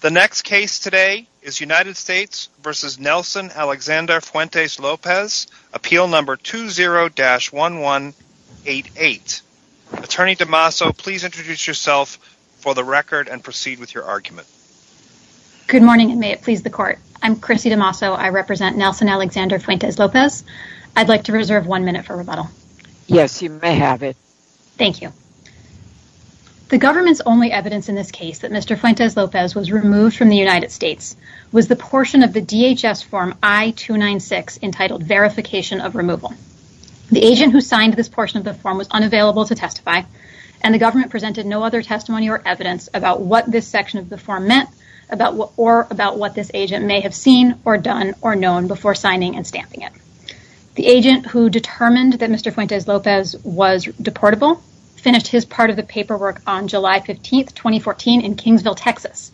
The next case today is United States v. Nelson Alexander Fuentes-Lopez, appeal number 20-1188. Attorney DeMasso, please introduce yourself for the record and proceed with your argument. Good morning and may it please the court. I'm Chrissy DeMasso. I represent Nelson Alexander Fuentes-Lopez. I'd like to reserve one minute for rebuttal. Yes, you may have it. Thank you. The government's only evidence in this case that Mr. Fuentes-Lopez was removed from the United States was the portion of the DHS form I-296 entitled verification of removal. The agent who signed this portion of the form was unavailable to testify and the government presented no other testimony or evidence about what this section of the form meant or about what this agent may have seen or done or known before signing and stamping it. The agent who determined that Mr. Fuentes-Lopez was deportable finished his part of the paperwork on July 15th, 2014 in Kingsville, Texas.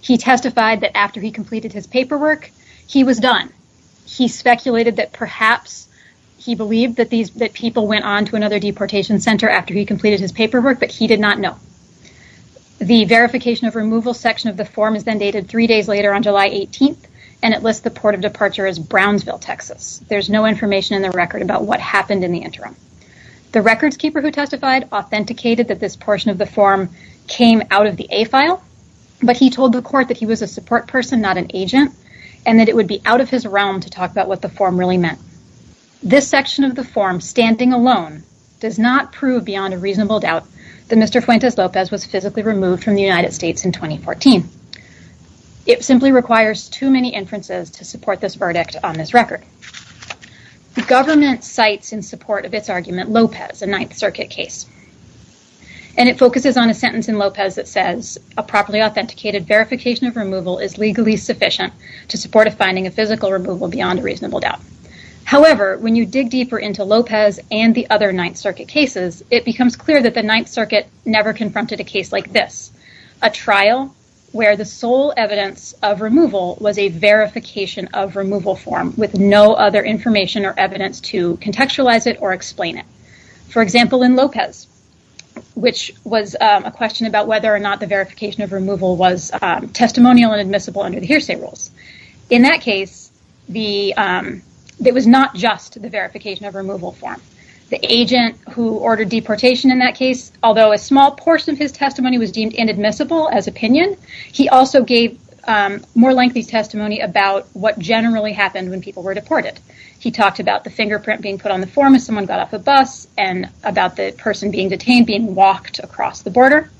He testified that after he completed his paperwork, he was done. He speculated that perhaps he believed that people went on to another deportation center after he completed his paperwork, but he did not know. The verification of removal section of the form is then dated three days later on July 18th and it lists the port of departure as Brownsville, Texas. There's no information in the record about what happened in the interim. The records keeper who testified authenticated that this portion of the form came out of the A file, but he told the court that he was a support person, not an agent, and that it would be out of his realm to talk about what the form really meant. This section of the form standing alone does not prove beyond a reasonable doubt that Mr. Fuentes-Lopez was physically removed from the United States in 2014. It simply requires too many inferences to support this verdict on this record. The government cites in support of its case and it focuses on a sentence in Lopez that says a properly authenticated verification of removal is legally sufficient to support a finding of physical removal beyond a reasonable doubt. However, when you dig deeper into Lopez and the other Ninth Circuit cases, it becomes clear that the Ninth Circuit never confronted a case like this, a trial where the sole evidence of removal was a verification of removal form with no other information or evidence to contextualize it or explain it. For example, in Lopez, which was a question about whether or not the verification of removal was testimonial and admissible under the hearsay rules. In that case, it was not just the verification of removal form. The agent who ordered deportation in that case, although a small portion of his testimony was deemed inadmissible as opinion, he also gave more lengthy testimony about what generally happened when people were deported. He talked about the fingerprint being put on the form as someone got off a bus and about the person being detained being walked across the border.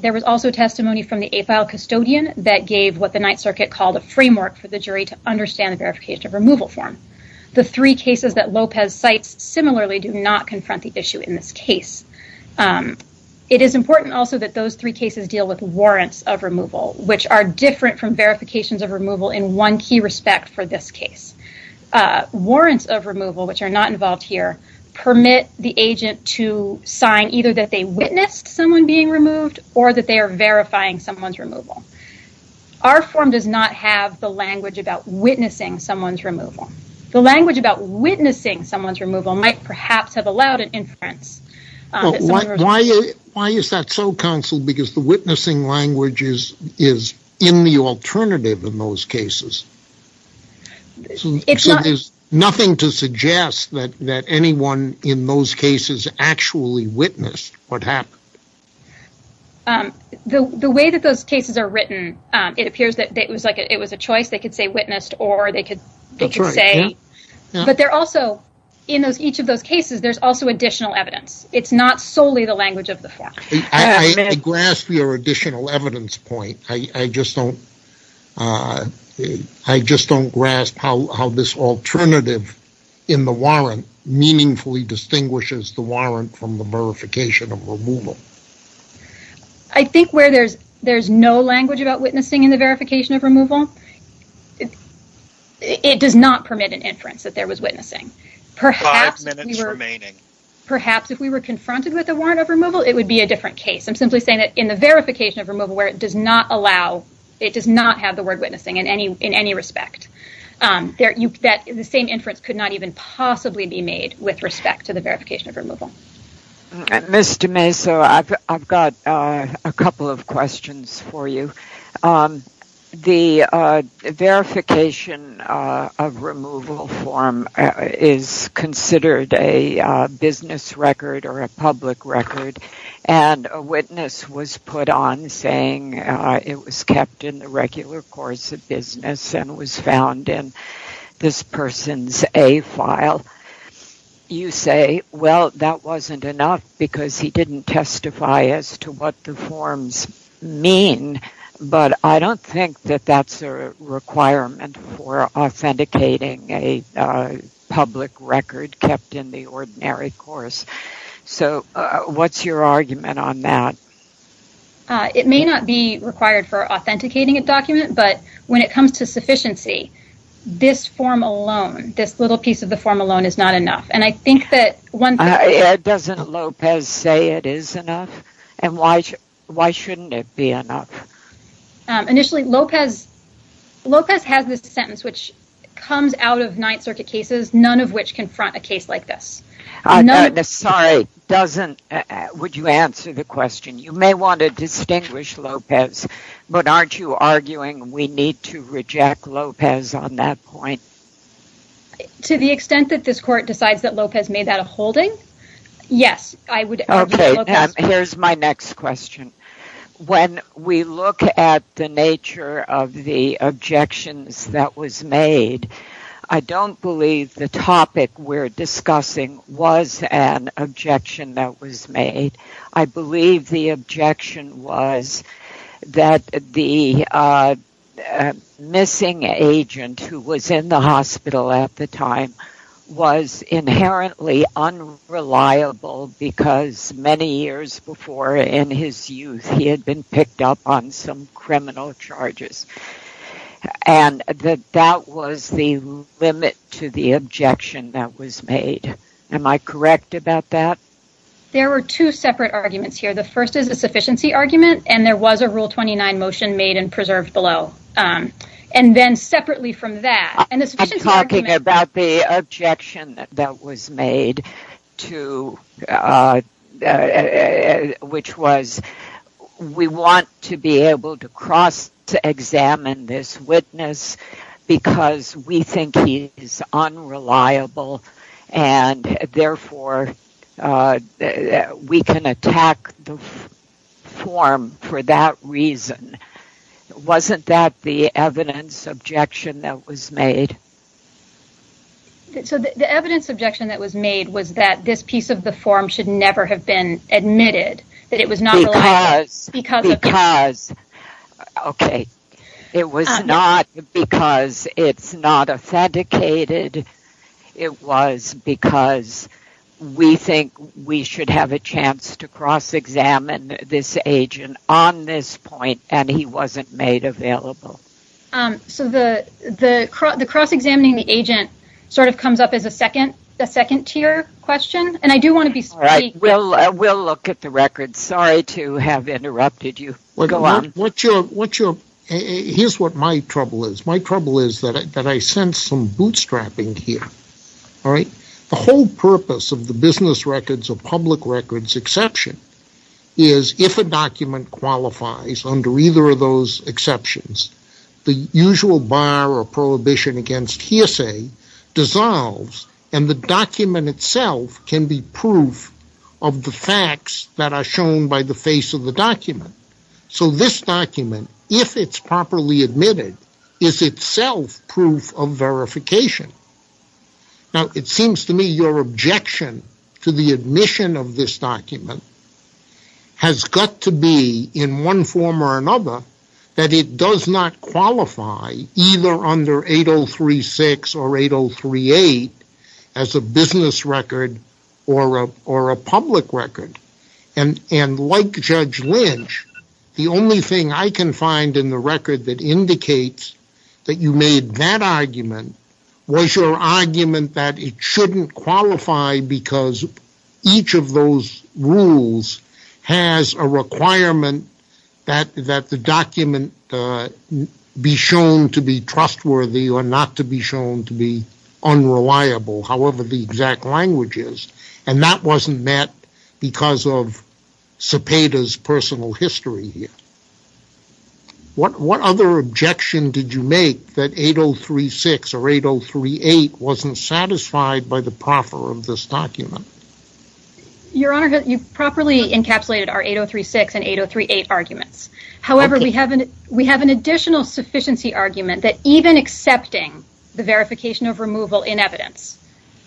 There was also testimony from the AFILE custodian that gave what the Ninth Circuit called a framework for the jury to understand the verification of removal form. The three cases that Lopez cites similarly do not confront the issue in this case. It is important also that those three cases deal with warrants of removal, which are different from verifications of removal in one key respect for this case. Warrants of removal, which are not involved here, permit the agent to sign either that they witnessed someone being removed or that they are verifying someone's removal. Our form does not have the language about witnessing someone's removal. The language about witnessing someone's removal might perhaps have allowed an inference. Why is that so counseled? The witnessing language is in the alternative in those cases. There's nothing to suggest that anyone in those cases actually witnessed what happened. The way that those cases are written, it appears that it was a choice. They could say witnessed, or they could say... In each of those cases, there's also additional evidence. It's not your additional evidence point. I just don't grasp how this alternative in the warrant meaningfully distinguishes the warrant from the verification of removal. I think where there's no language about witnessing in the verification of removal, it does not permit an inference that there was witnessing. Perhaps if we were confronted with a warrant of removal, it would be a different case. I'm simply saying that in the verification of removal where it does not allow... It does not have the word witnessing in any respect. The same inference could not even possibly be made with respect to the verification of removal. Ms. DeMesa, I've got a couple of questions for you. The verification of removal form is considered a business record or a public record, and a witness was put on saying it was kept in the regular course of business and was found in this person's A file. You say, well, that wasn't enough because he didn't testify as to what the forms mean, but I don't think that that's a requirement for authenticating a public record kept in the ordinary course. What's your argument on that? It may not be required for authenticating a document, but when it comes to sufficiency, this form alone, this little piece of the form alone is not enough. Doesn't Lopez say it is enough, and why shouldn't it be enough? Initially, Lopez has this sentence which comes out of Ninth Circuit cases, none of which confront a case like this. Would you answer the question? You may want to distinguish Lopez, but aren't you arguing we need to reject Lopez on that point? To the extent that this court decides that Lopez made that a holding, yes. Here's my next question. When we look at the nature of the objections that was made, I don't believe the topic we're discussing was an objection that was made. I believe the objection was that the missing agent who was in the hospital at the time was inherently unreliable because many years before in his youth, he had been picked up on some criminal charges. And that was the limit to the objection that was made. Am I correct about that? There were two separate arguments here. The first is a sufficiency argument, and there was a Rule 29 motion made and preserved below. And then separately from that, I'm talking about the objection that was made, which was we want to be able to cross examine this witness because we think he is unreliable. And therefore, we can attack the form for that reason. Wasn't that the evidence objection that was made? So the evidence objection that was made was that this piece of the form should never have been admitted. It was not because it's not authenticated. It was because we think we should have a chance to cross examine this agent on this point, and he wasn't made available. So the cross examining the agent sort of comes up as a second tier question. All right. We'll look at the records. Sorry to have interrupted you. Here's what my trouble is. My trouble is that I sense some bootstrapping here. The whole purpose of the business records or public records exception is if a document qualifies under either of those exceptions, the usual bar or prohibition against hearsay dissolves, and the document itself can be proof of the facts that are shown by the face of the document. So this document, if it's properly admitted, is itself proof of verification. Now, it seems to me your objection to the admission of this document has got to be in one form or another that it does not qualify either under 8036 or 8038 as a business record or a public record. And like Judge Lynch, the only thing I can find in the record that indicates that you made that argument was your argument that it shouldn't qualify because each of those rules has a requirement that the document be shown to be trustworthy or not to be shown to be unreliable, however the exact language is. And that wasn't met because of Cepeda's personal history here. What other objection did you make that 8036 or 8038 wasn't satisfied by the proffer of this document? Your Honor, you've properly encapsulated our 8036 and 8038 arguments. However, we have an additional sufficiency argument that even accepting the verification of removal in evidence,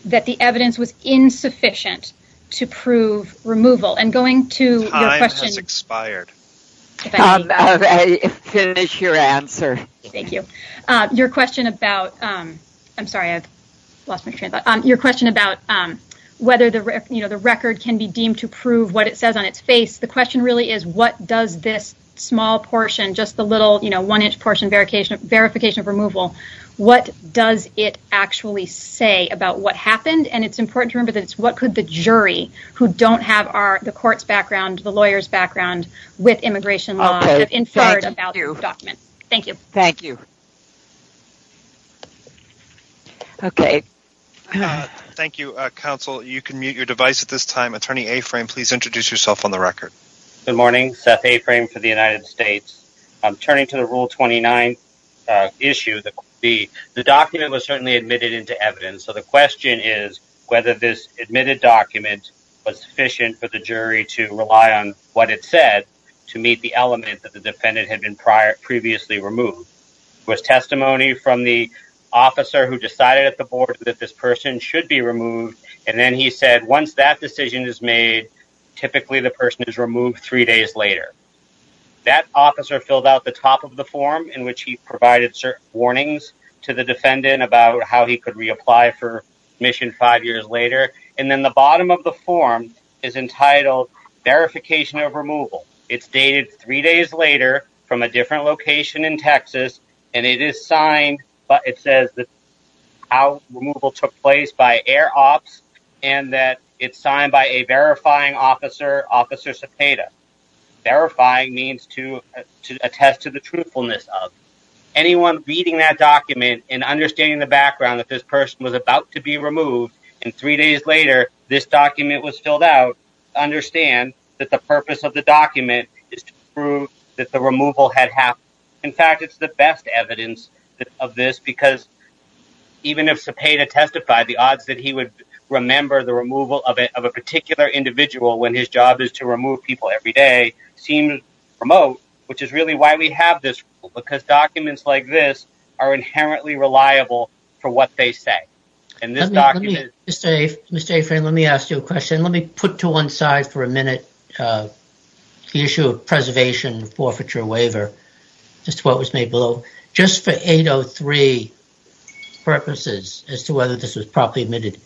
that the evidence was insufficient to prove removal and going to- Time has expired. Finish your answer. Thank you. Your question about, I'm sorry, I've lost my train of thought. Your question about whether the record can be deemed to prove what it says on its face, the question really is what does this small portion, just the little one inch portion verification of removal, what does it actually say about what happened? And it's important to what could the jury who don't have the court's background, the lawyer's background with immigration law have inferred about your document? Thank you. Thank you. Okay. Thank you, counsel. You can mute your device at this time. Attorney Aframe, please introduce yourself on the record. Good morning. Seth Aframe for the United States. I'm turning to the Rule 29 issue. The document was certainly admitted into evidence. So the admitted document was sufficient for the jury to rely on what it said to meet the element that the defendant had been previously removed. It was testimony from the officer who decided at the board that this person should be removed. And then he said, once that decision is made, typically the person is removed three days later. That officer filled out the top of the form in which he provided certain warnings to the defendant about how he could reapply for admission five years later. And then the bottom of the form is entitled verification of removal. It's dated three days later from a different location in Texas. And it is signed, but it says that how removal took place by Air Ops and that it's signed by a verifying officer, Officer Cepeda. Verifying means to attest to the truthfulness of anyone reading that document and understanding the background that this person was about to be removed. And three days later, this document was filled out. Understand that the purpose of the document is to prove that the removal had happened. In fact, it's the best evidence of this because even if Cepeda testified, the odds that he would remember the removal of a particular individual when his job is to remove people every day seem remote, which is really why we have this rule because documents like this are inherently reliable for what they say. Let me put to one side for a minute the issue of preservation forfeiture waiver, just what was made below. Just for 803 purposes as to whether this was properly admitted,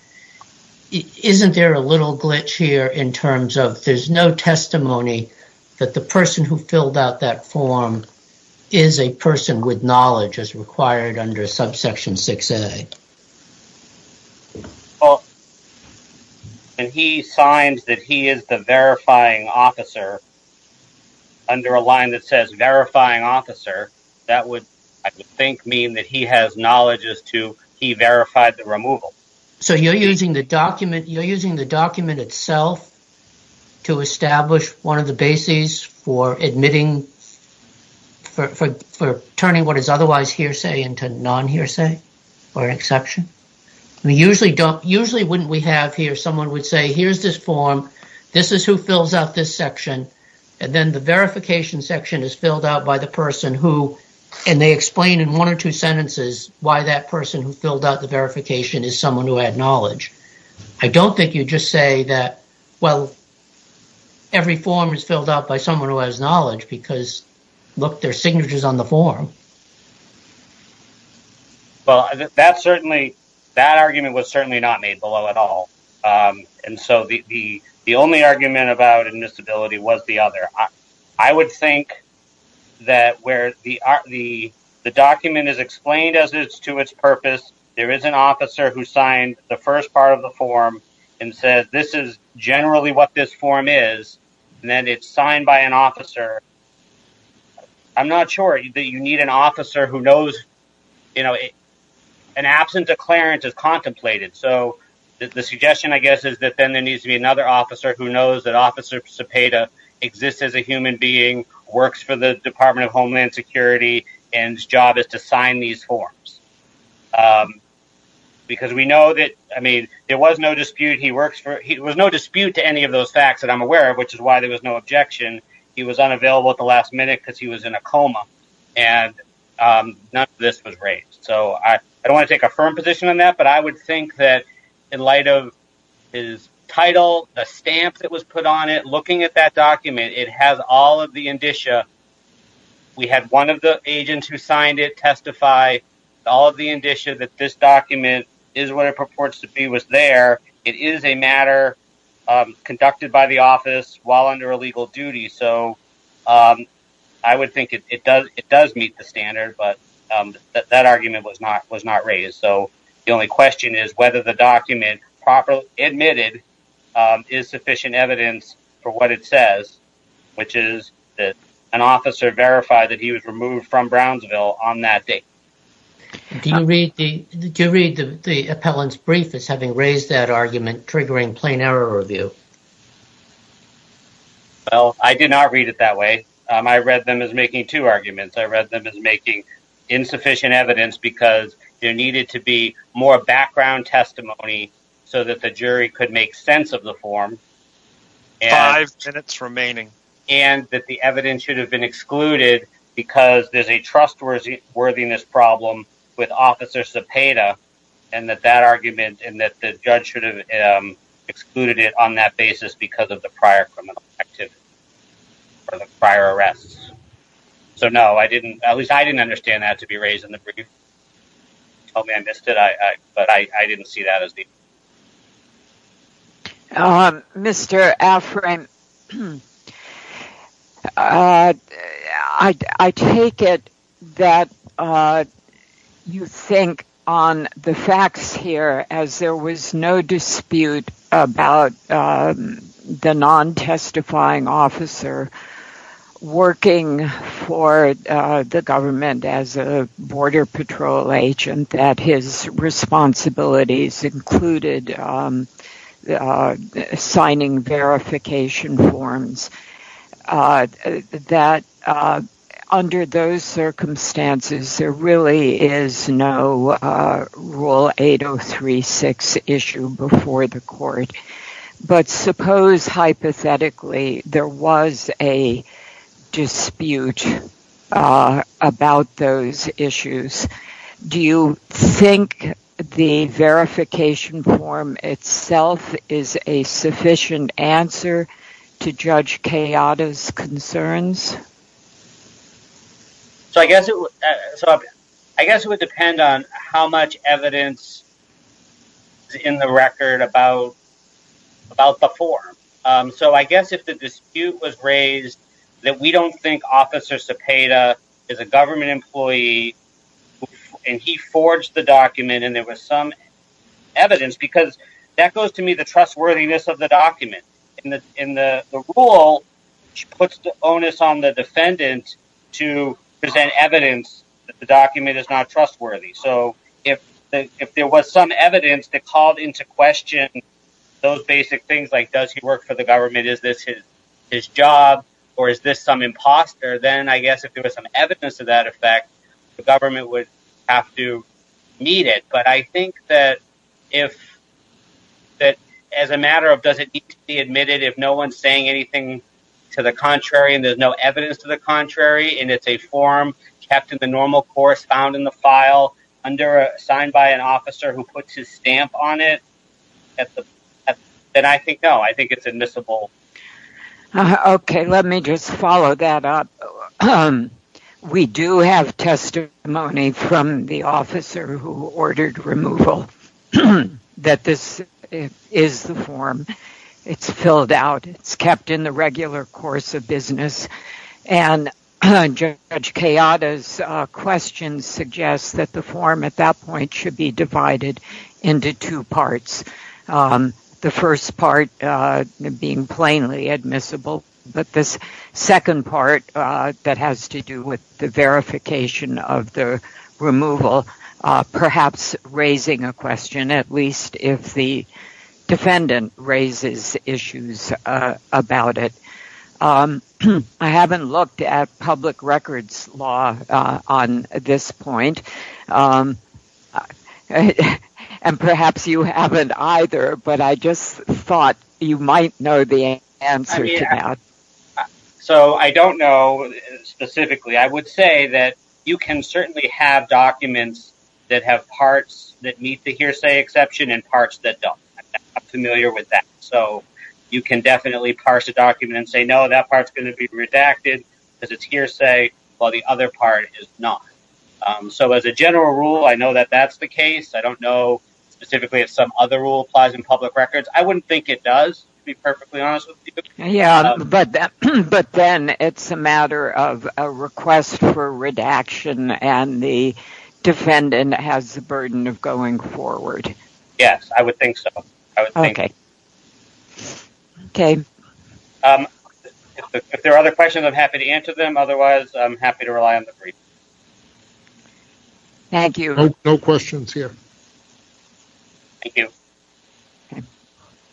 isn't there a little glitch here in terms of there's no testimony that the person who filled out that form is a person with knowledge as required under subsection 6A? Well, when he signs that he is the verifying officer under a line that says verifying officer, that would I think mean that he has knowledge as to he verified the removal. So you're using the document, you're using the document itself to establish one of the bases for admitting, for turning what is otherwise hearsay into non-hearsay or exception? Usually wouldn't we have here someone would say, here's this form, this is who fills out this section, and then the verification section is filled out by the person who, and they explain in one or two sentences why that person who filled out the verification is someone who had knowledge. I don't think you just say that, well, every form is filled out by someone who has knowledge because look, there's signatures on the form. Well, that argument was certainly not made below at all. And so the only argument about admissibility was the other. I would think that where the document is explained as it's to its purpose, there is an officer who signed the first part of the form and says, this is generally what this form is, and then it's signed by an officer. I'm not sure that you need an officer who knows, you know, an absent declarant is contemplated. So the suggestion, I guess, is that then there needs to be another officer who knows that Officer Cepeda exists as a human being, works for the Department of Homeland Security, and his job is to sign these forms. Because we know that, I mean, there was no dispute he works for, there was no dispute to any of those facts that I'm aware of, which is why there was no objection. He was unavailable at the last minute because he was in a coma, and none of this was raised. So I don't want to take a firm position on that, but I would think that in light of his title, the stamp that was put on it, looking at that document, it has all of the indicia. We had one of the agents who signed it testify, all of the indicia that this document is what it purports to be was there. It is a matter conducted by the office while under a legal duty. So I would think it does meet the standard, but that argument was not raised. So the only question is whether the document properly admitted is which is that an officer verified that he was removed from Brownsville on that date. Do you read the appellant's brief as having raised that argument triggering plain error review? Well, I did not read it that way. I read them as making two arguments. I read them as making insufficient evidence because there needed to be more background testimony so that the jury could make sense of the form. Five minutes remaining. And that the evidence should have been excluded because there's a trustworthiness problem with Officer Cepeda, and that that argument and that the judge should have excluded it on that basis because of the prior criminal activity or the prior arrests. So no, I didn't, at least I didn't understand that to be raised in the brief. Oh, man, I missed it. But I didn't see that as the... Mr. Alfred, I take it that you think on the facts here as there was no dispute about the non-testifying officer working for the government as a border patrol agent, that his responsibilities included signing verification forms, that under those circumstances there is no Rule 8036 issue before the court. But suppose hypothetically there was a dispute about those issues. Do you think the verification form itself is a sufficient answer to Judge I guess it would depend on how much evidence is in the record about the form. So I guess if the dispute was raised that we don't think Officer Cepeda is a government employee and he forged the document and there was some evidence because that goes to me the trustworthiness of the trustworthiness. So if there was some evidence that called into question those basic things like does he work for the government, is this his job or is this some imposter, then I guess if there was some evidence of that effect, the government would have to meet it. But I think that as a matter of does it need to be admitted if no one's saying anything to the contrary and no evidence to the contrary and it's a form kept in the normal course found in the file signed by an officer who puts his stamp on it, then I think no, I think it's admissible. Okay, let me just follow that up. We do have testimony from the officer who ordered removal that this is the form. It's filled out. It's kept in the regular course of business. And Judge Kayada's question suggests that the form at that point should be divided into two parts. The first part being plainly admissible, but this second part that has to do with the verification of the removal, perhaps raising a question at least if the defendant raises issues about it. I haven't looked at public records law on this point, and perhaps you haven't either, but I just thought you might know the answer to that. So I don't know specifically. I would say that you can certainly have documents that have parts that meet the hearsay exception and parts that don't. I'm not familiar with that. So you can definitely parse a document and say no, that part's going to be redacted because it's hearsay while the other part is not. So as a general rule, I know that that's the case. I don't know specifically if some other rule applies in public records. I wouldn't think it does, to be perfectly honest with you. But then it's a matter of a request for redaction and the defendant has the burden of going forward. Yes, I would think so. If there are other questions, I'm happy to answer them. Otherwise, I'm happy to rely on the brief. Thank you. No questions here. Thank you.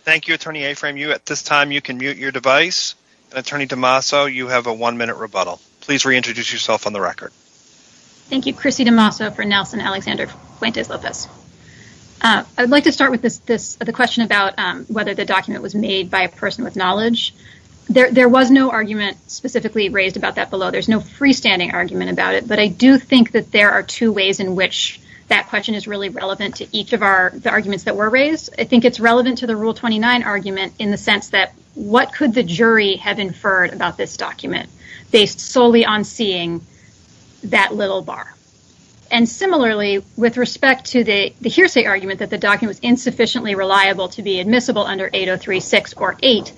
Thank you, Attorney Aframe. At this time, you can mute your device. And Attorney DeMaso, you have a one-minute rebuttal. Please reintroduce yourself on the record. Thank you. Chrissy DeMaso for Nelson Alexander Fuentes Lopez. I'd like to start with the question about whether the document was made by a person with knowledge. There was no argument specifically raised about that below. There's no freestanding argument about it, but I do think that there are two ways in which that question is really relevant to each of the arguments that were raised. I think it's relevant to the Rule 29 argument in the sense that what could the jury have inferred about this document based solely on seeing that little bar? And similarly, with respect to the hearsay argument that the document was insufficiently reliable to be admissible under 803.6 or 8,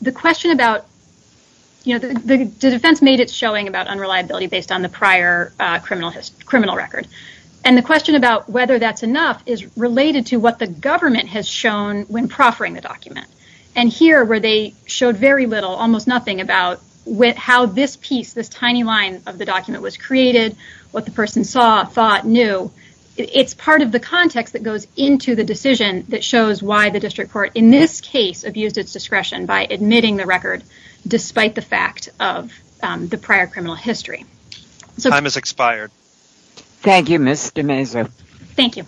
the question about the defense made showing about unreliability based on the prior criminal record. And the question about whether that's enough is related to what the government has shown when proffering the document. And here, where they showed very little, almost nothing about how this piece, this tiny line of the document was created, what the person saw, thought, knew, it's part of the context that goes into the decision that shows why the district court in this case abused its discretion by the prior criminal history. Time has expired. Thank you, Ms. DeMaso. Thank you.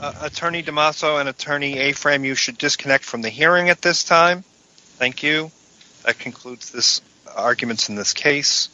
Attorney DeMaso and Attorney Afram, you should disconnect from the hearing at this time. Thank you. That concludes this argument in this case.